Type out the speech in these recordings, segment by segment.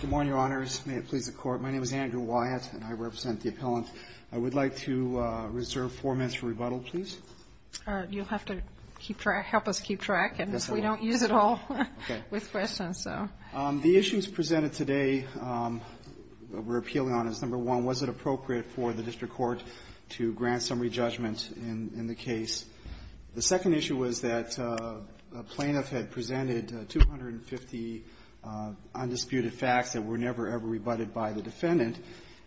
Good morning, Your Honors. May it please the Court, my name is Andrew Wyatt, and I represent the appellant. I would like to reserve four minutes for rebuttal, please. You'll have to help us keep track, and we don't use it all with questions. The issues presented today that we're appealing on is, number one, was it appropriate for the district court to grant summary judgment in the case. The second issue was that a plaintiff had presented 250 undisputed facts that were never, ever rebutted by the defendant,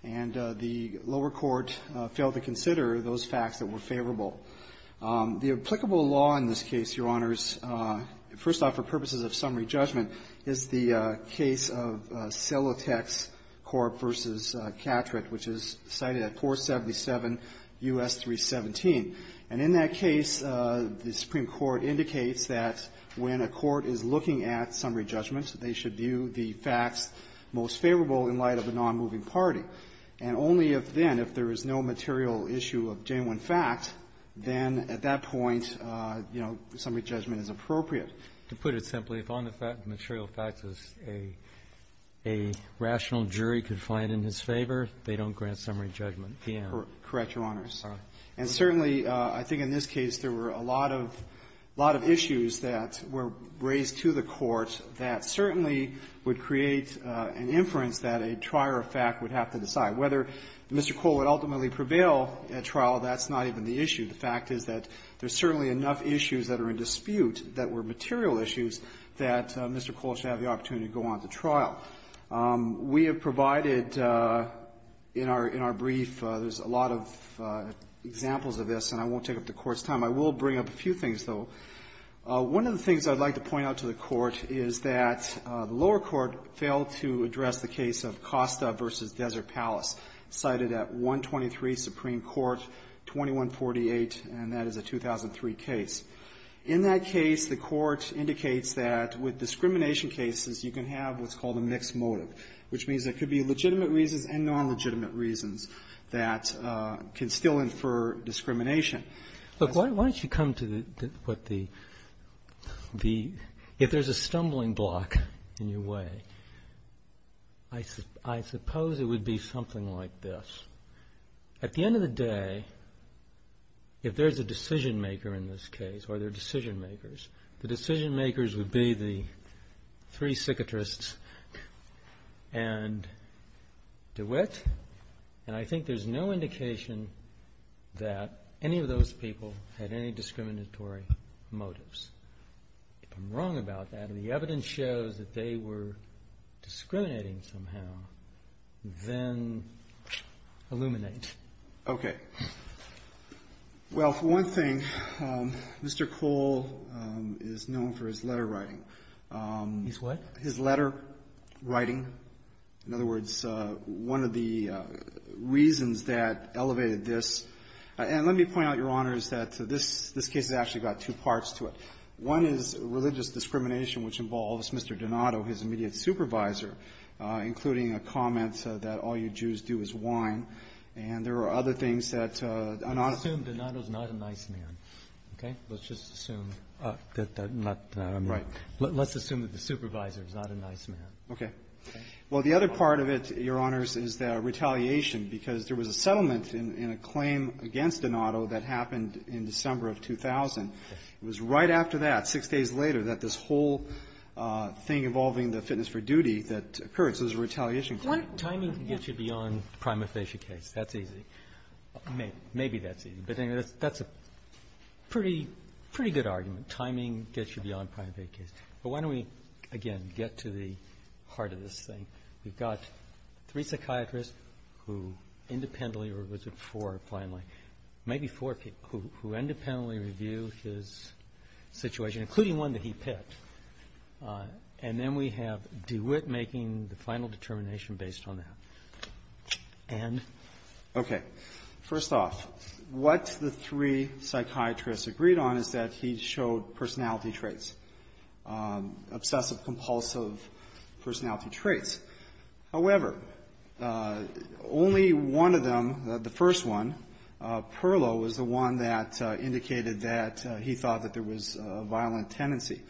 and the lower court failed to consider those facts that were favorable. The applicable law in this case, Your Honors, first off, for purposes of summary judgment, is the case of Celotex Corp. v. Catrick, which is cited at 477 U.S. 317. And in that case, the Supreme Court indicates that when a court is looking at summary judgment, they should view the facts most favorable in light of a nonmoving party. And only if then, if there is no material issue of genuine fact, then at that point, you know, summary judgment is appropriate. Roberts, to put it simply, if on the fact the material facts is a rational jury confined in his favor, they don't grant summary judgment. Piano. Piano. Correct, Your Honors. And certainly, I think in this case, there were a lot of issues that were raised to the court that certainly would create an inference that a trier of fact would have to decide. Whether Mr. Cole would ultimately prevail at trial, that's not even the issue. The fact is that there's certainly enough issues that are in dispute that were material issues that Mr. Cole should have the opportunity to go on to trial. We have provided in our brief, there's a lot of examples of this, and I won't take up the Court's time. I will bring up a few things, though. One of the things I'd like to point out to the Court is that the lower court failed to address the case of Costa v. Desert Palace, cited at 123 Supreme Court, 2148, and that is a 2003 case. In that case, the Court indicates that with discrimination cases, you can have what's called a mixed motive, which means there could be legitimate reasons and non-legitimate reasons that can still infer discrimination. Look, why don't you come to what the – if there's a stumbling block in your way, I suppose it would be something like this. At the end of the day, if there's a decision maker in this case, or there are decision makers, the decision makers would be the three psychiatrists and DeWitt, and I think there's no indication that any of those people had any discriminatory motives. If I'm wrong about that, and the evidence shows that they were discriminating somehow, then illuminate. Okay. Well, for one thing, Mr. Cole is known for his letter writing. His what? His letter writing. In other words, one of the reasons that elevated this – and let me point out, Your Honors, that this case has actually got two parts to it. One is religious discrimination, which involves Mr. Donato, his immediate supervisor, including a comment that all you Jews do is whine. And there are other things that an honest – Let's assume Donato's not a nice man. Okay? Let's just assume that that's not a nice man. Right. Let's assume that the supervisor is not a nice man. Okay. Well, the other part of it, Your Honors, is the retaliation, because there was a settlement in a claim against Donato that happened in December of 2000. It was right after that, six days later, that this whole thing involving the fitness for duty that occurred. So it was a retaliation claim. Timing can get you beyond the prima facie case. That's easy. Maybe that's easy. But anyway, that's a pretty good argument. Timing gets you beyond the prima facie case. But why don't we, again, get to the heart of this thing? We've got three psychiatrists who independently – or was it four, finally? Maybe four people who independently review his situation, including one that he picked. And then we have DeWitt making the final determination based on that. And – Okay. First off, what the three psychiatrists agreed on is that he showed personality traits, obsessive-compulsive personality traits. However, only one of that indicated that he thought that there was a violent tendency.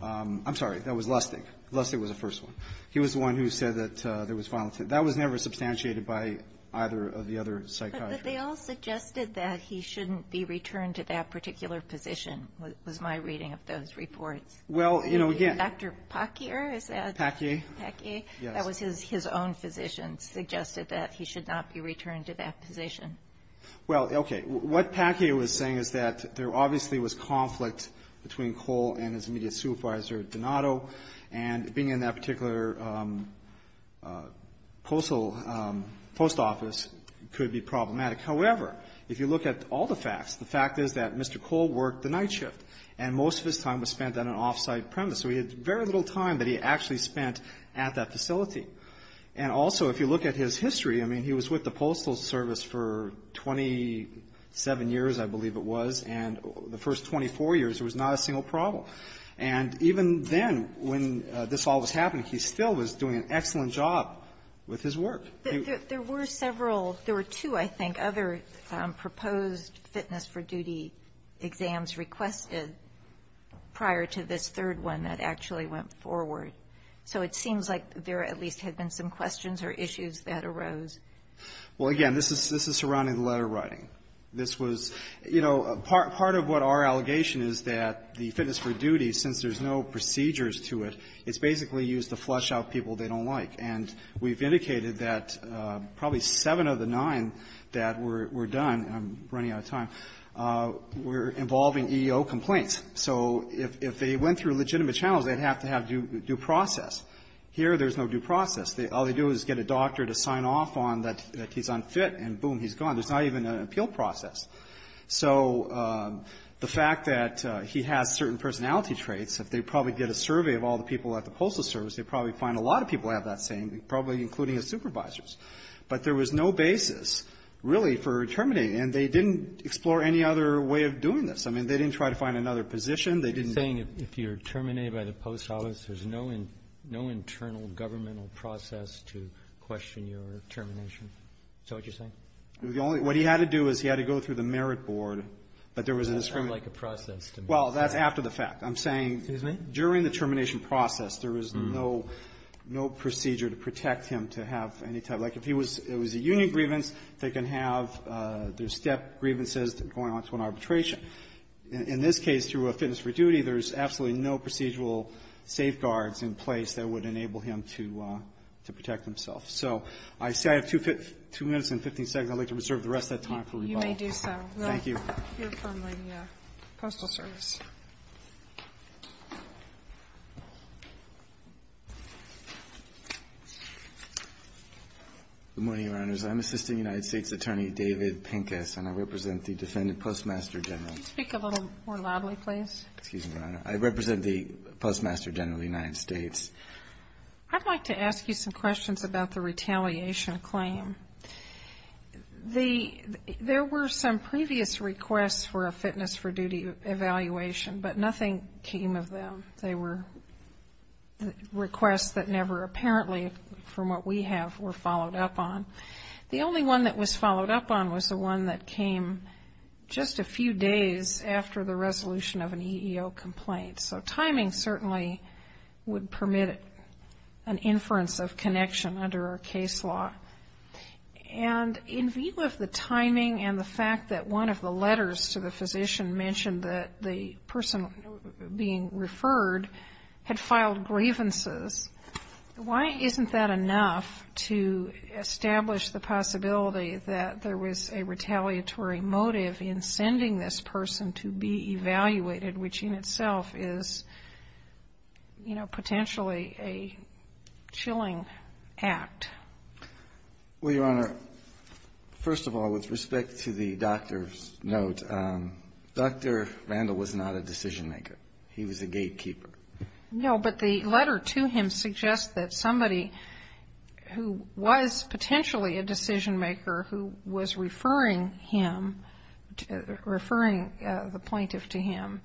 I'm sorry. That was Lustig. Lustig was the first one. He was the one who said that there was violent – that was never substantiated by either of the other psychiatrists. But they all suggested that he shouldn't be returned to that particular position, was my reading of those reports. Well, you know, again – Dr. Packier, is that – Packier. Packier. Yes. That was his own physician, suggested that he should not be returned to that position. Well, okay. What Packier was saying is that there obviously was conflict between Cole and his immediate supervisor, Donato, and being in that particular postal post office could be problematic. However, if you look at all the facts, the fact is that Mr. Cole worked the night shift, and most of his time was spent on an off-site premise. So he had very little time that he actually spent at that facility. And also, if you look at his history, I mean, he was with the Postal Service for 27 years, I believe it was. And the first 24 years, there was not a single problem. And even then, when this all was happening, he still was doing an excellent job with his work. But there were several – there were two, I think, other proposed fitness-for- duty exams requested prior to this third one that actually went forward. So it seems like there at least had been some questions or issues that arose. Well, again, this is – this is surrounding the letter writing. This was – you know, part of what our allegation is that the fitness-for-duty, since there's no procedures to it, it's basically used to flush out people they don't like. And we've indicated that probably seven of the nine that were done – I'm running out of time – were involving EEO complaints. So if they went through legitimate channels, they'd have to have due process. Here, there's no due process. All they do is get a doctor to sign off on that he's unfit, and boom, he's gone. There's not even an appeal process. So the fact that he has certain personality traits, if they probably get a survey of all the people at the Postal Service, they'd probably find a lot of people have that same – probably including his supervisors. But there was no basis, really, for terminating. And they didn't explore any other way of doing this. I mean, they didn't try to find another position. They didn't – You're saying if you're terminated by the Post Office, there's no internal governmental process to question your termination? Is that what you're saying? The only – what he had to do is he had to go through the Merit Board, but there was a discriminatory – It doesn't sound like a process to me. Well, that's after the fact. I'm saying – Excuse me? During the termination process, there was no procedure to protect him to have any type – like if he was – it was a union grievance, they can have their step grievances going on to an arbitration. In this case, through a fitness for duty, there's absolutely no procedural safeguards in place that would enable him to – to protect himself. So I see I have two minutes and 15 seconds. I'd like to reserve the rest of that time for rebuttal. You may do so. Thank you. Well, you're from the Postal Service. Good morning, Your Honors. I'm Assistant United States Attorney David Pincus, and I represent the Defendant Postmaster General. Could you speak a little more loudly, please? Excuse me, Your Honor. I represent the Postmaster General of the United States. I'd like to ask you some questions about the retaliation claim. The – there were some previous requests for a fitness for duty evaluation, but nothing came of them. They were requests that never apparently, from what we have, were followed up on. The only one that was followed up on was the one that came just a few days after the resolution of an EEO complaint. So timing certainly would permit an inference of connection under our case law. And in view of the timing and the fact that one of the letters to the physician mentioned that the person being referred had filed grievances, why isn't that enough to establish the possibility that there was a retaliatory motive in sending this person to be evaluated, which in itself is, you know, potentially a chilling act? Well, Your Honor, first of all, with respect to the doctor's note, Dr. Randall was not a decision-maker. He was a gatekeeper. No, but the letter to him suggests that somebody who was potentially a decision-maker who was referring him, referring the plaintiff to him,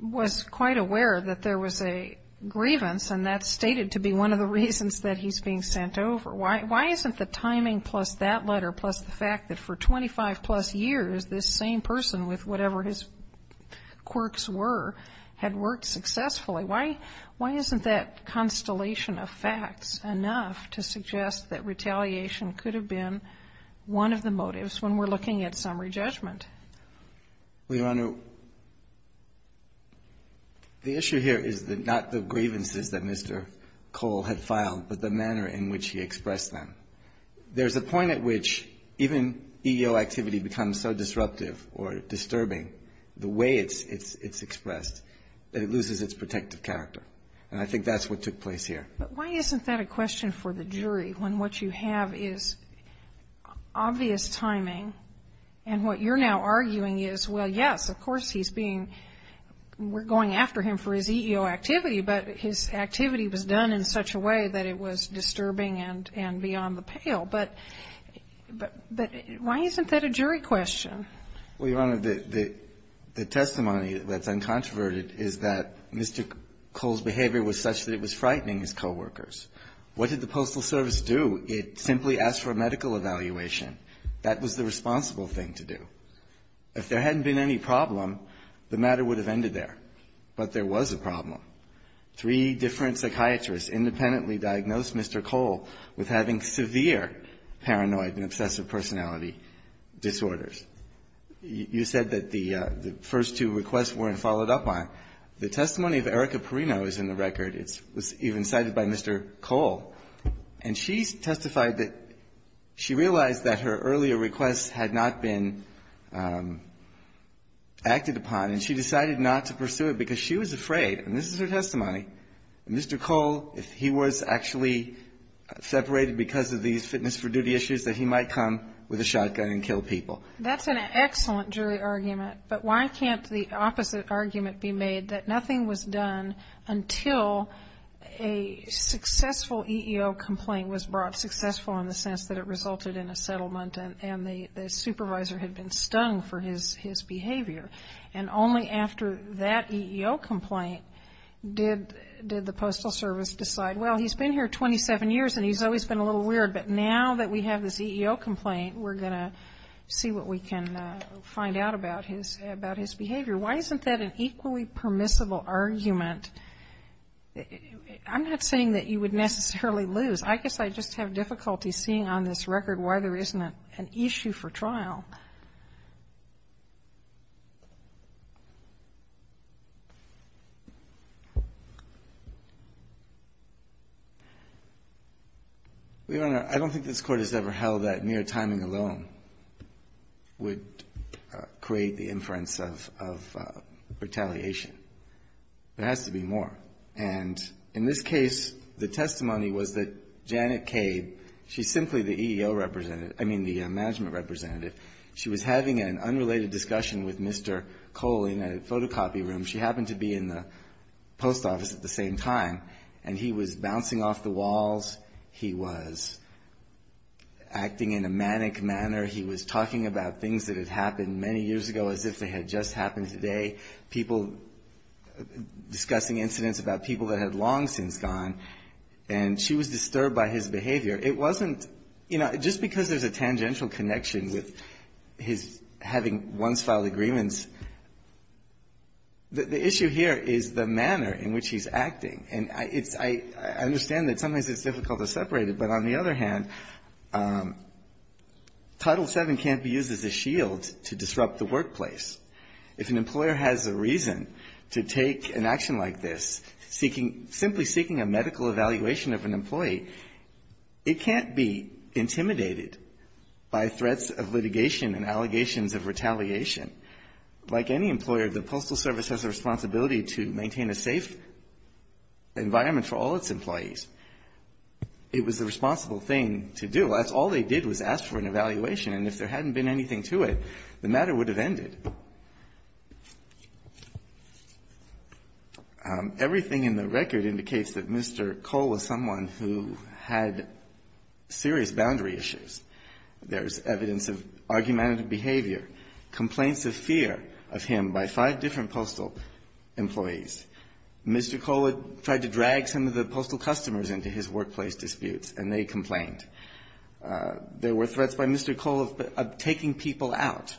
was quite aware that there was a grievance, and that's stated to be one of the reasons that he's being sent over. Why isn't the timing plus that letter plus the fact that for 25-plus years, this same person with whatever his quirks were had worked successfully, why isn't that constellation of facts enough to suggest that retaliation could have been one of the motives when we're looking at summary judgment? Well, Your Honor, the issue here is not the grievances that Mr. Cole had filed, but the manner in which he expressed them. There's a point at which even EEO activity becomes so disruptive or disturbing, the way it's expressed, that it loses its protective character, and I think that's what took place here. But why isn't that a question for the jury when what you have is obvious timing, and what you're now arguing is, well, yes, of course he's being, we're going after him for his EEO activity, but his activity was done in such a way that it was disturbing and beyond the pale. But why isn't that a jury question? Well, Your Honor, the testimony that's uncontroverted is that Mr. Cole's behavior was such that it was frightening his coworkers. What did the Postal Service do? It simply asked for a medical evaluation. That was the responsible thing to do. If there hadn't been any problem, the matter would have ended there. But there was a problem. Three different psychiatrists independently diagnosed Mr. Cole with having severe paranoid and obsessive personality disorders. You said that the first two requests weren't followed up on. The testimony of Erica Perino is in the record. It was even cited by Mr. Cole. And she testified that she realized that her earlier requests had not been acted upon, and she decided not to pursue it because she was afraid. And this is her testimony. Mr. Cole, if he was actually separated because of these fitness for duty issues, that he might come with a shotgun and kill people. That's an excellent jury argument. But why can't the opposite argument be made, that nothing was done until a successful EEO complaint was brought, successful in the sense that it resulted in a settlement and the supervisor had been stung for his behavior. And only after that EEO complaint did the Postal Service decide, well, he's been here 27 years and he's always been a little weird, but now that we have this EEO complaint, we're going to see what we can find out about his behavior. Why isn't that an equally permissible argument? I'm not saying that you would necessarily lose. I guess I just have difficulty seeing on this record why there isn't an issue for trial. I don't think this Court has ever held that mere timing alone would create the inference of retaliation. There has to be more. And in this case, the testimony was that Janet Cade, she's simply the EEO representative I mean, the management representative. She was having an unrelated discussion with Mr. Cole in a photocopy room. She happened to be in the post office at the same time. And he was bouncing off the walls. He was acting in a manic manner. He was talking about things that had happened many years ago as if they had just happened today. People discussing incidents about people that had long since gone. And she was disturbed by his behavior. It wasn't, you know, just because there's a tangential connection with his having once-filed agreements, the issue here is the manner in which he's acting. And it's – I understand that sometimes it's difficult to separate it, but on the other hand, Title VII can't be used as a shield to disrupt the workplace. If an employer has a reason to take an action like this, seeking – simply seeking a medical evaluation of an employee, it can't be intimidated by threats of litigation and allegations of retaliation. Like any employer, the Postal Service has a responsibility to maintain a safe environment for all its employees. It was a responsible thing to do. That's all they did was ask for an evaluation. And if there hadn't been anything to it, the matter would have ended. Everything in the record indicates that Mr. Cole was someone who had serious boundary issues. There's evidence of argumentative behavior, complaints of fear of him by five different postal employees. Mr. Cole had tried to drag some of the postal customers into his workplace disputes, and they complained. There were threats by Mr. Cole of taking people out.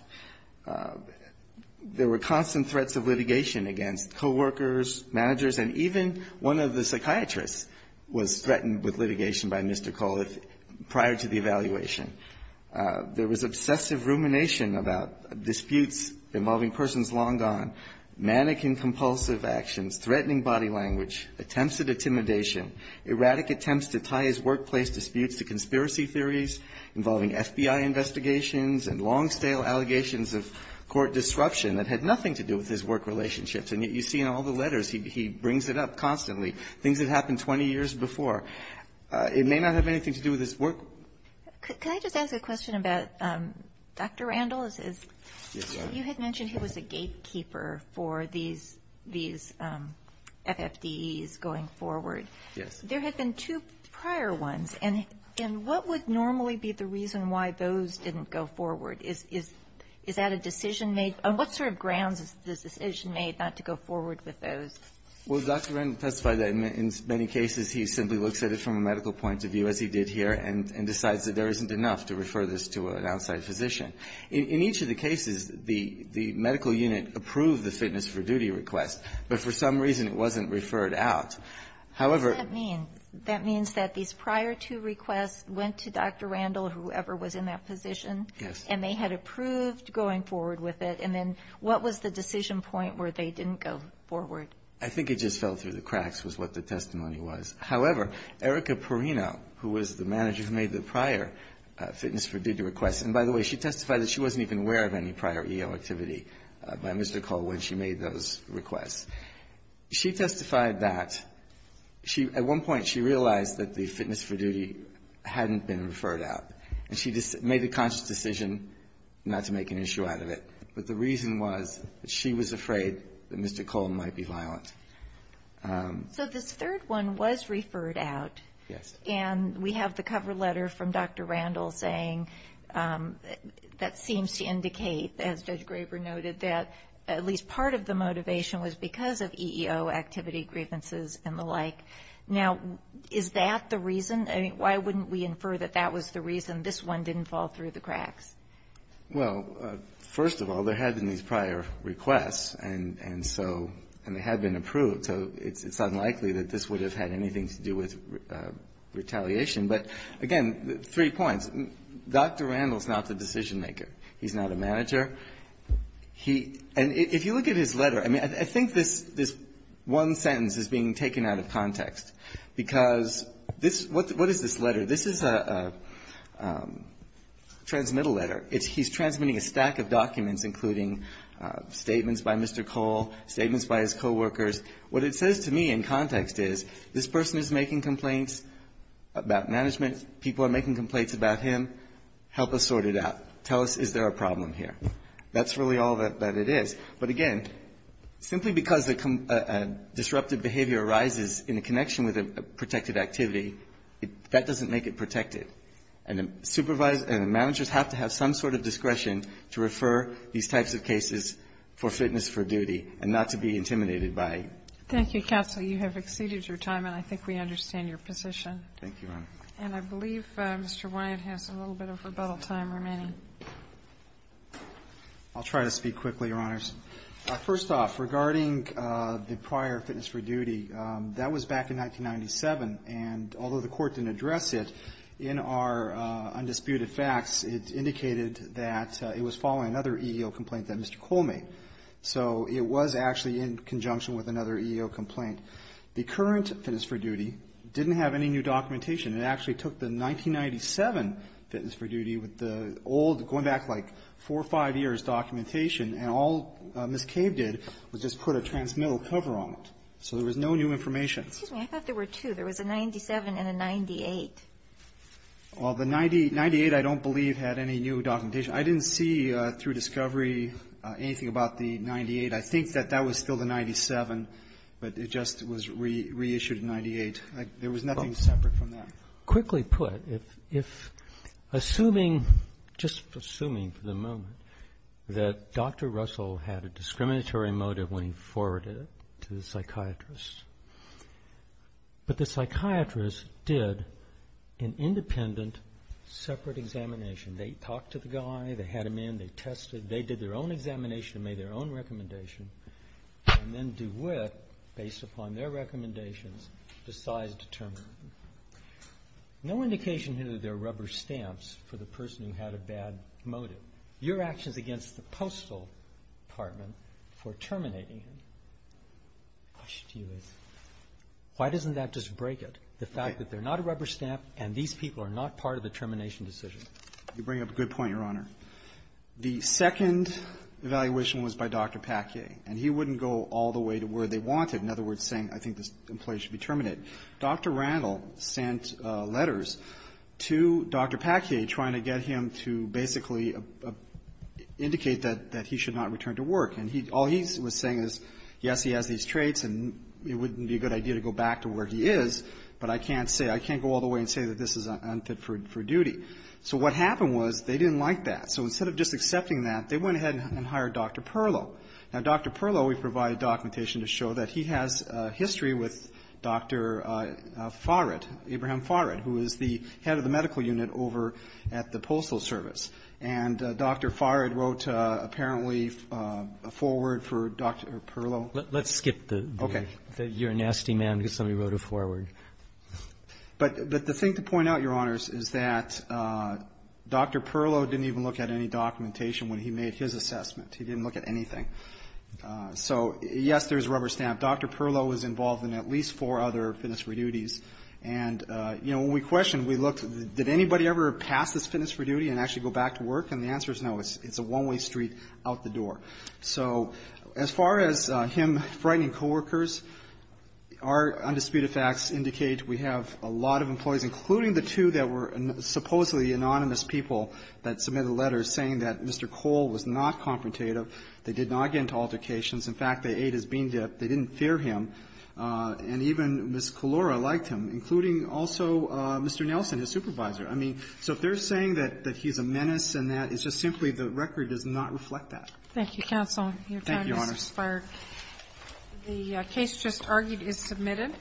There were constant threats of litigation against coworkers, managers, and even one of the psychiatrists was threatened with litigation by Mr. Cole prior to the evaluation. There was obsessive rumination about disputes involving persons long gone, manic and compulsive actions, threatening body language, attempts at intimidation, erratic attempts to tie his conspiracy theories involving FBI investigations, and long-stale allegations of court disruption that had nothing to do with his work relationships. And yet you see in all the letters, he brings it up constantly, things that happened 20 years before. It may not have anything to do with his work. Can I just ask a question about Dr. Randall? Yes, ma'am. You had mentioned he was a gatekeeper for these FFDEs going forward. Yes. There have been two prior ones. And what would normally be the reason why those didn't go forward? Is that a decision made? On what sort of grounds is the decision made not to go forward with those? Well, Dr. Randall testified that in many cases he simply looks at it from a medical point of view, as he did here, and decides that there isn't enough to refer this to an outside physician. In each of the cases, the medical unit approved the fitness for duty request, but for some reason it wasn't referred out. What does that mean? That means that these prior two requests went to Dr. Randall, whoever was in that position, and they had approved going forward with it, and then what was the decision point where they didn't go forward? I think it just fell through the cracks was what the testimony was. However, Erica Perino, who was the manager who made the prior fitness for duty request, and by the way, she testified that she wasn't even aware of any prior EO activity by Mr. Cole when she made those requests. She testified that at one point she realized that the fitness for duty hadn't been referred out, and she just made a conscious decision not to make an issue out of it. But the reason was that she was afraid that Mr. Cole might be violent. So this third one was referred out. Yes. And we have the cover letter from Dr. Randall saying that seems to indicate, as Judge Graber noted, that at least part of the motivation was because of EO activity, grievances, and the like. Now, is that the reason? I mean, why wouldn't we infer that that was the reason this one didn't fall through the cracks? Well, first of all, there had been these prior requests, and so they had been approved, so it's unlikely that this would have had anything to do with retaliation. But again, three points. Dr. Randall's not the decision maker. He's not a manager. He, and if you look at his letter, I mean, I think this one sentence is being taken out of context, because this, what is this letter? This is a transmittal letter. It's, he's transmitting a stack of documents, including statements by Mr. Cole, statements by his coworkers. What it says to me in context is, this person is making complaints about management. People are making complaints about him. Help us sort it out. Tell us, is there a problem here? That's really all that it is. But again, simply because a disrupted behavior arises in a connection with a protected activity, that doesn't make it protected. And a supervisor and a manager have to have some sort of discretion to refer these types of cases for fitness for duty and not to be intimidated by it. Thank you, counsel. You have exceeded your time, and I think we understand your position. Thank you, Your Honor. And I believe Mr. Wyatt has a little bit of rebuttal time remaining. I'll try to speak quickly, Your Honors. First off, regarding the prior fitness for duty, that was back in 1997. And although the court didn't address it, in our undisputed facts, it indicated that it was following another EEO complaint that Mr. Cole made. So it was actually in conjunction with another EEO complaint. The current fitness for duty didn't have any new documentation. It actually took the 1997 fitness for duty with the old, going back like four or five years, documentation, and all Ms. Cave did was just put a transmittal cover on it. So there was no new information. Excuse me. I thought there were two. There was a 97 and a 98. Well, the 98, I don't believe, had any new documentation. I didn't see through discovery anything about the 98. I think that that was still the 97, but it just was reissued in 98. There was nothing separate from that. Quickly put, if assuming, just assuming for the moment, that Dr. Russell had a discriminatory motive when he forwarded it to the psychiatrist, but the psychiatrist did an independent, separate examination. They talked to the guy. They had him in. They tested. They did their own examination and made their own recommendation, and then Dewitt, based upon their recommendations, decides to terminate him. No indication here that there are rubber stamps for the person who had a bad motive. Your actions against the Postal Department for terminating him, why shouldn't you? Why doesn't that just break it, the fact that they're not a rubber stamp, and these people are not part of the termination decision? You bring up a good point, Your Honor. The second evaluation was by Dr. Packier, and he wouldn't go all the way to where they wanted, in other words, saying, I think this employee should be terminated. Dr. Randall sent letters to Dr. Packier trying to get him to basically indicate that he should not return to work, and all he was saying is, yes, he has these traits, and it wouldn't be a good idea to go back to where he is, but I can't say, I can't go all the way and say that this is unfit for duty. So what happened was they didn't like that. So instead of just accepting that, they went ahead and hired Dr. Perlow. Now, Dr. Perlow, we provide documentation to show that he has history with Dr. Farid, Abraham Farid, who is the head of the medical unit over at the Postal Service. And Dr. Farid wrote apparently a foreword for Dr. Perlow. Let's skip the you're a nasty man because somebody wrote a foreword. But the thing to point out, Your Honors, is that Dr. Perlow didn't even look at any documentation when he made his assessment. He didn't look at anything. So, yes, there's rubber stamp. Dr. Perlow was involved in at least four other fitness for duties. And, you know, when we questioned, we looked, did anybody ever pass this fitness for duty and actually go back to work? And the answer is no. It's a one-way street out the door. So as far as him frightening coworkers, our undisputed facts indicate we have a lot of employees, including the two that were supposedly anonymous people that submitted to the letter saying that Mr. Cole was not confrontative. They did not get into altercations. In fact, they ate his bean dip. They didn't fear him. And even Ms. Kalora liked him, including also Mr. Nelson, his supervisor. I mean, so if they're saying that he's a menace and that, it's just simply the record does not reflect that. Thank you, counsel. Your time has expired. Thank you, Your Honors. The case just argued is submitted.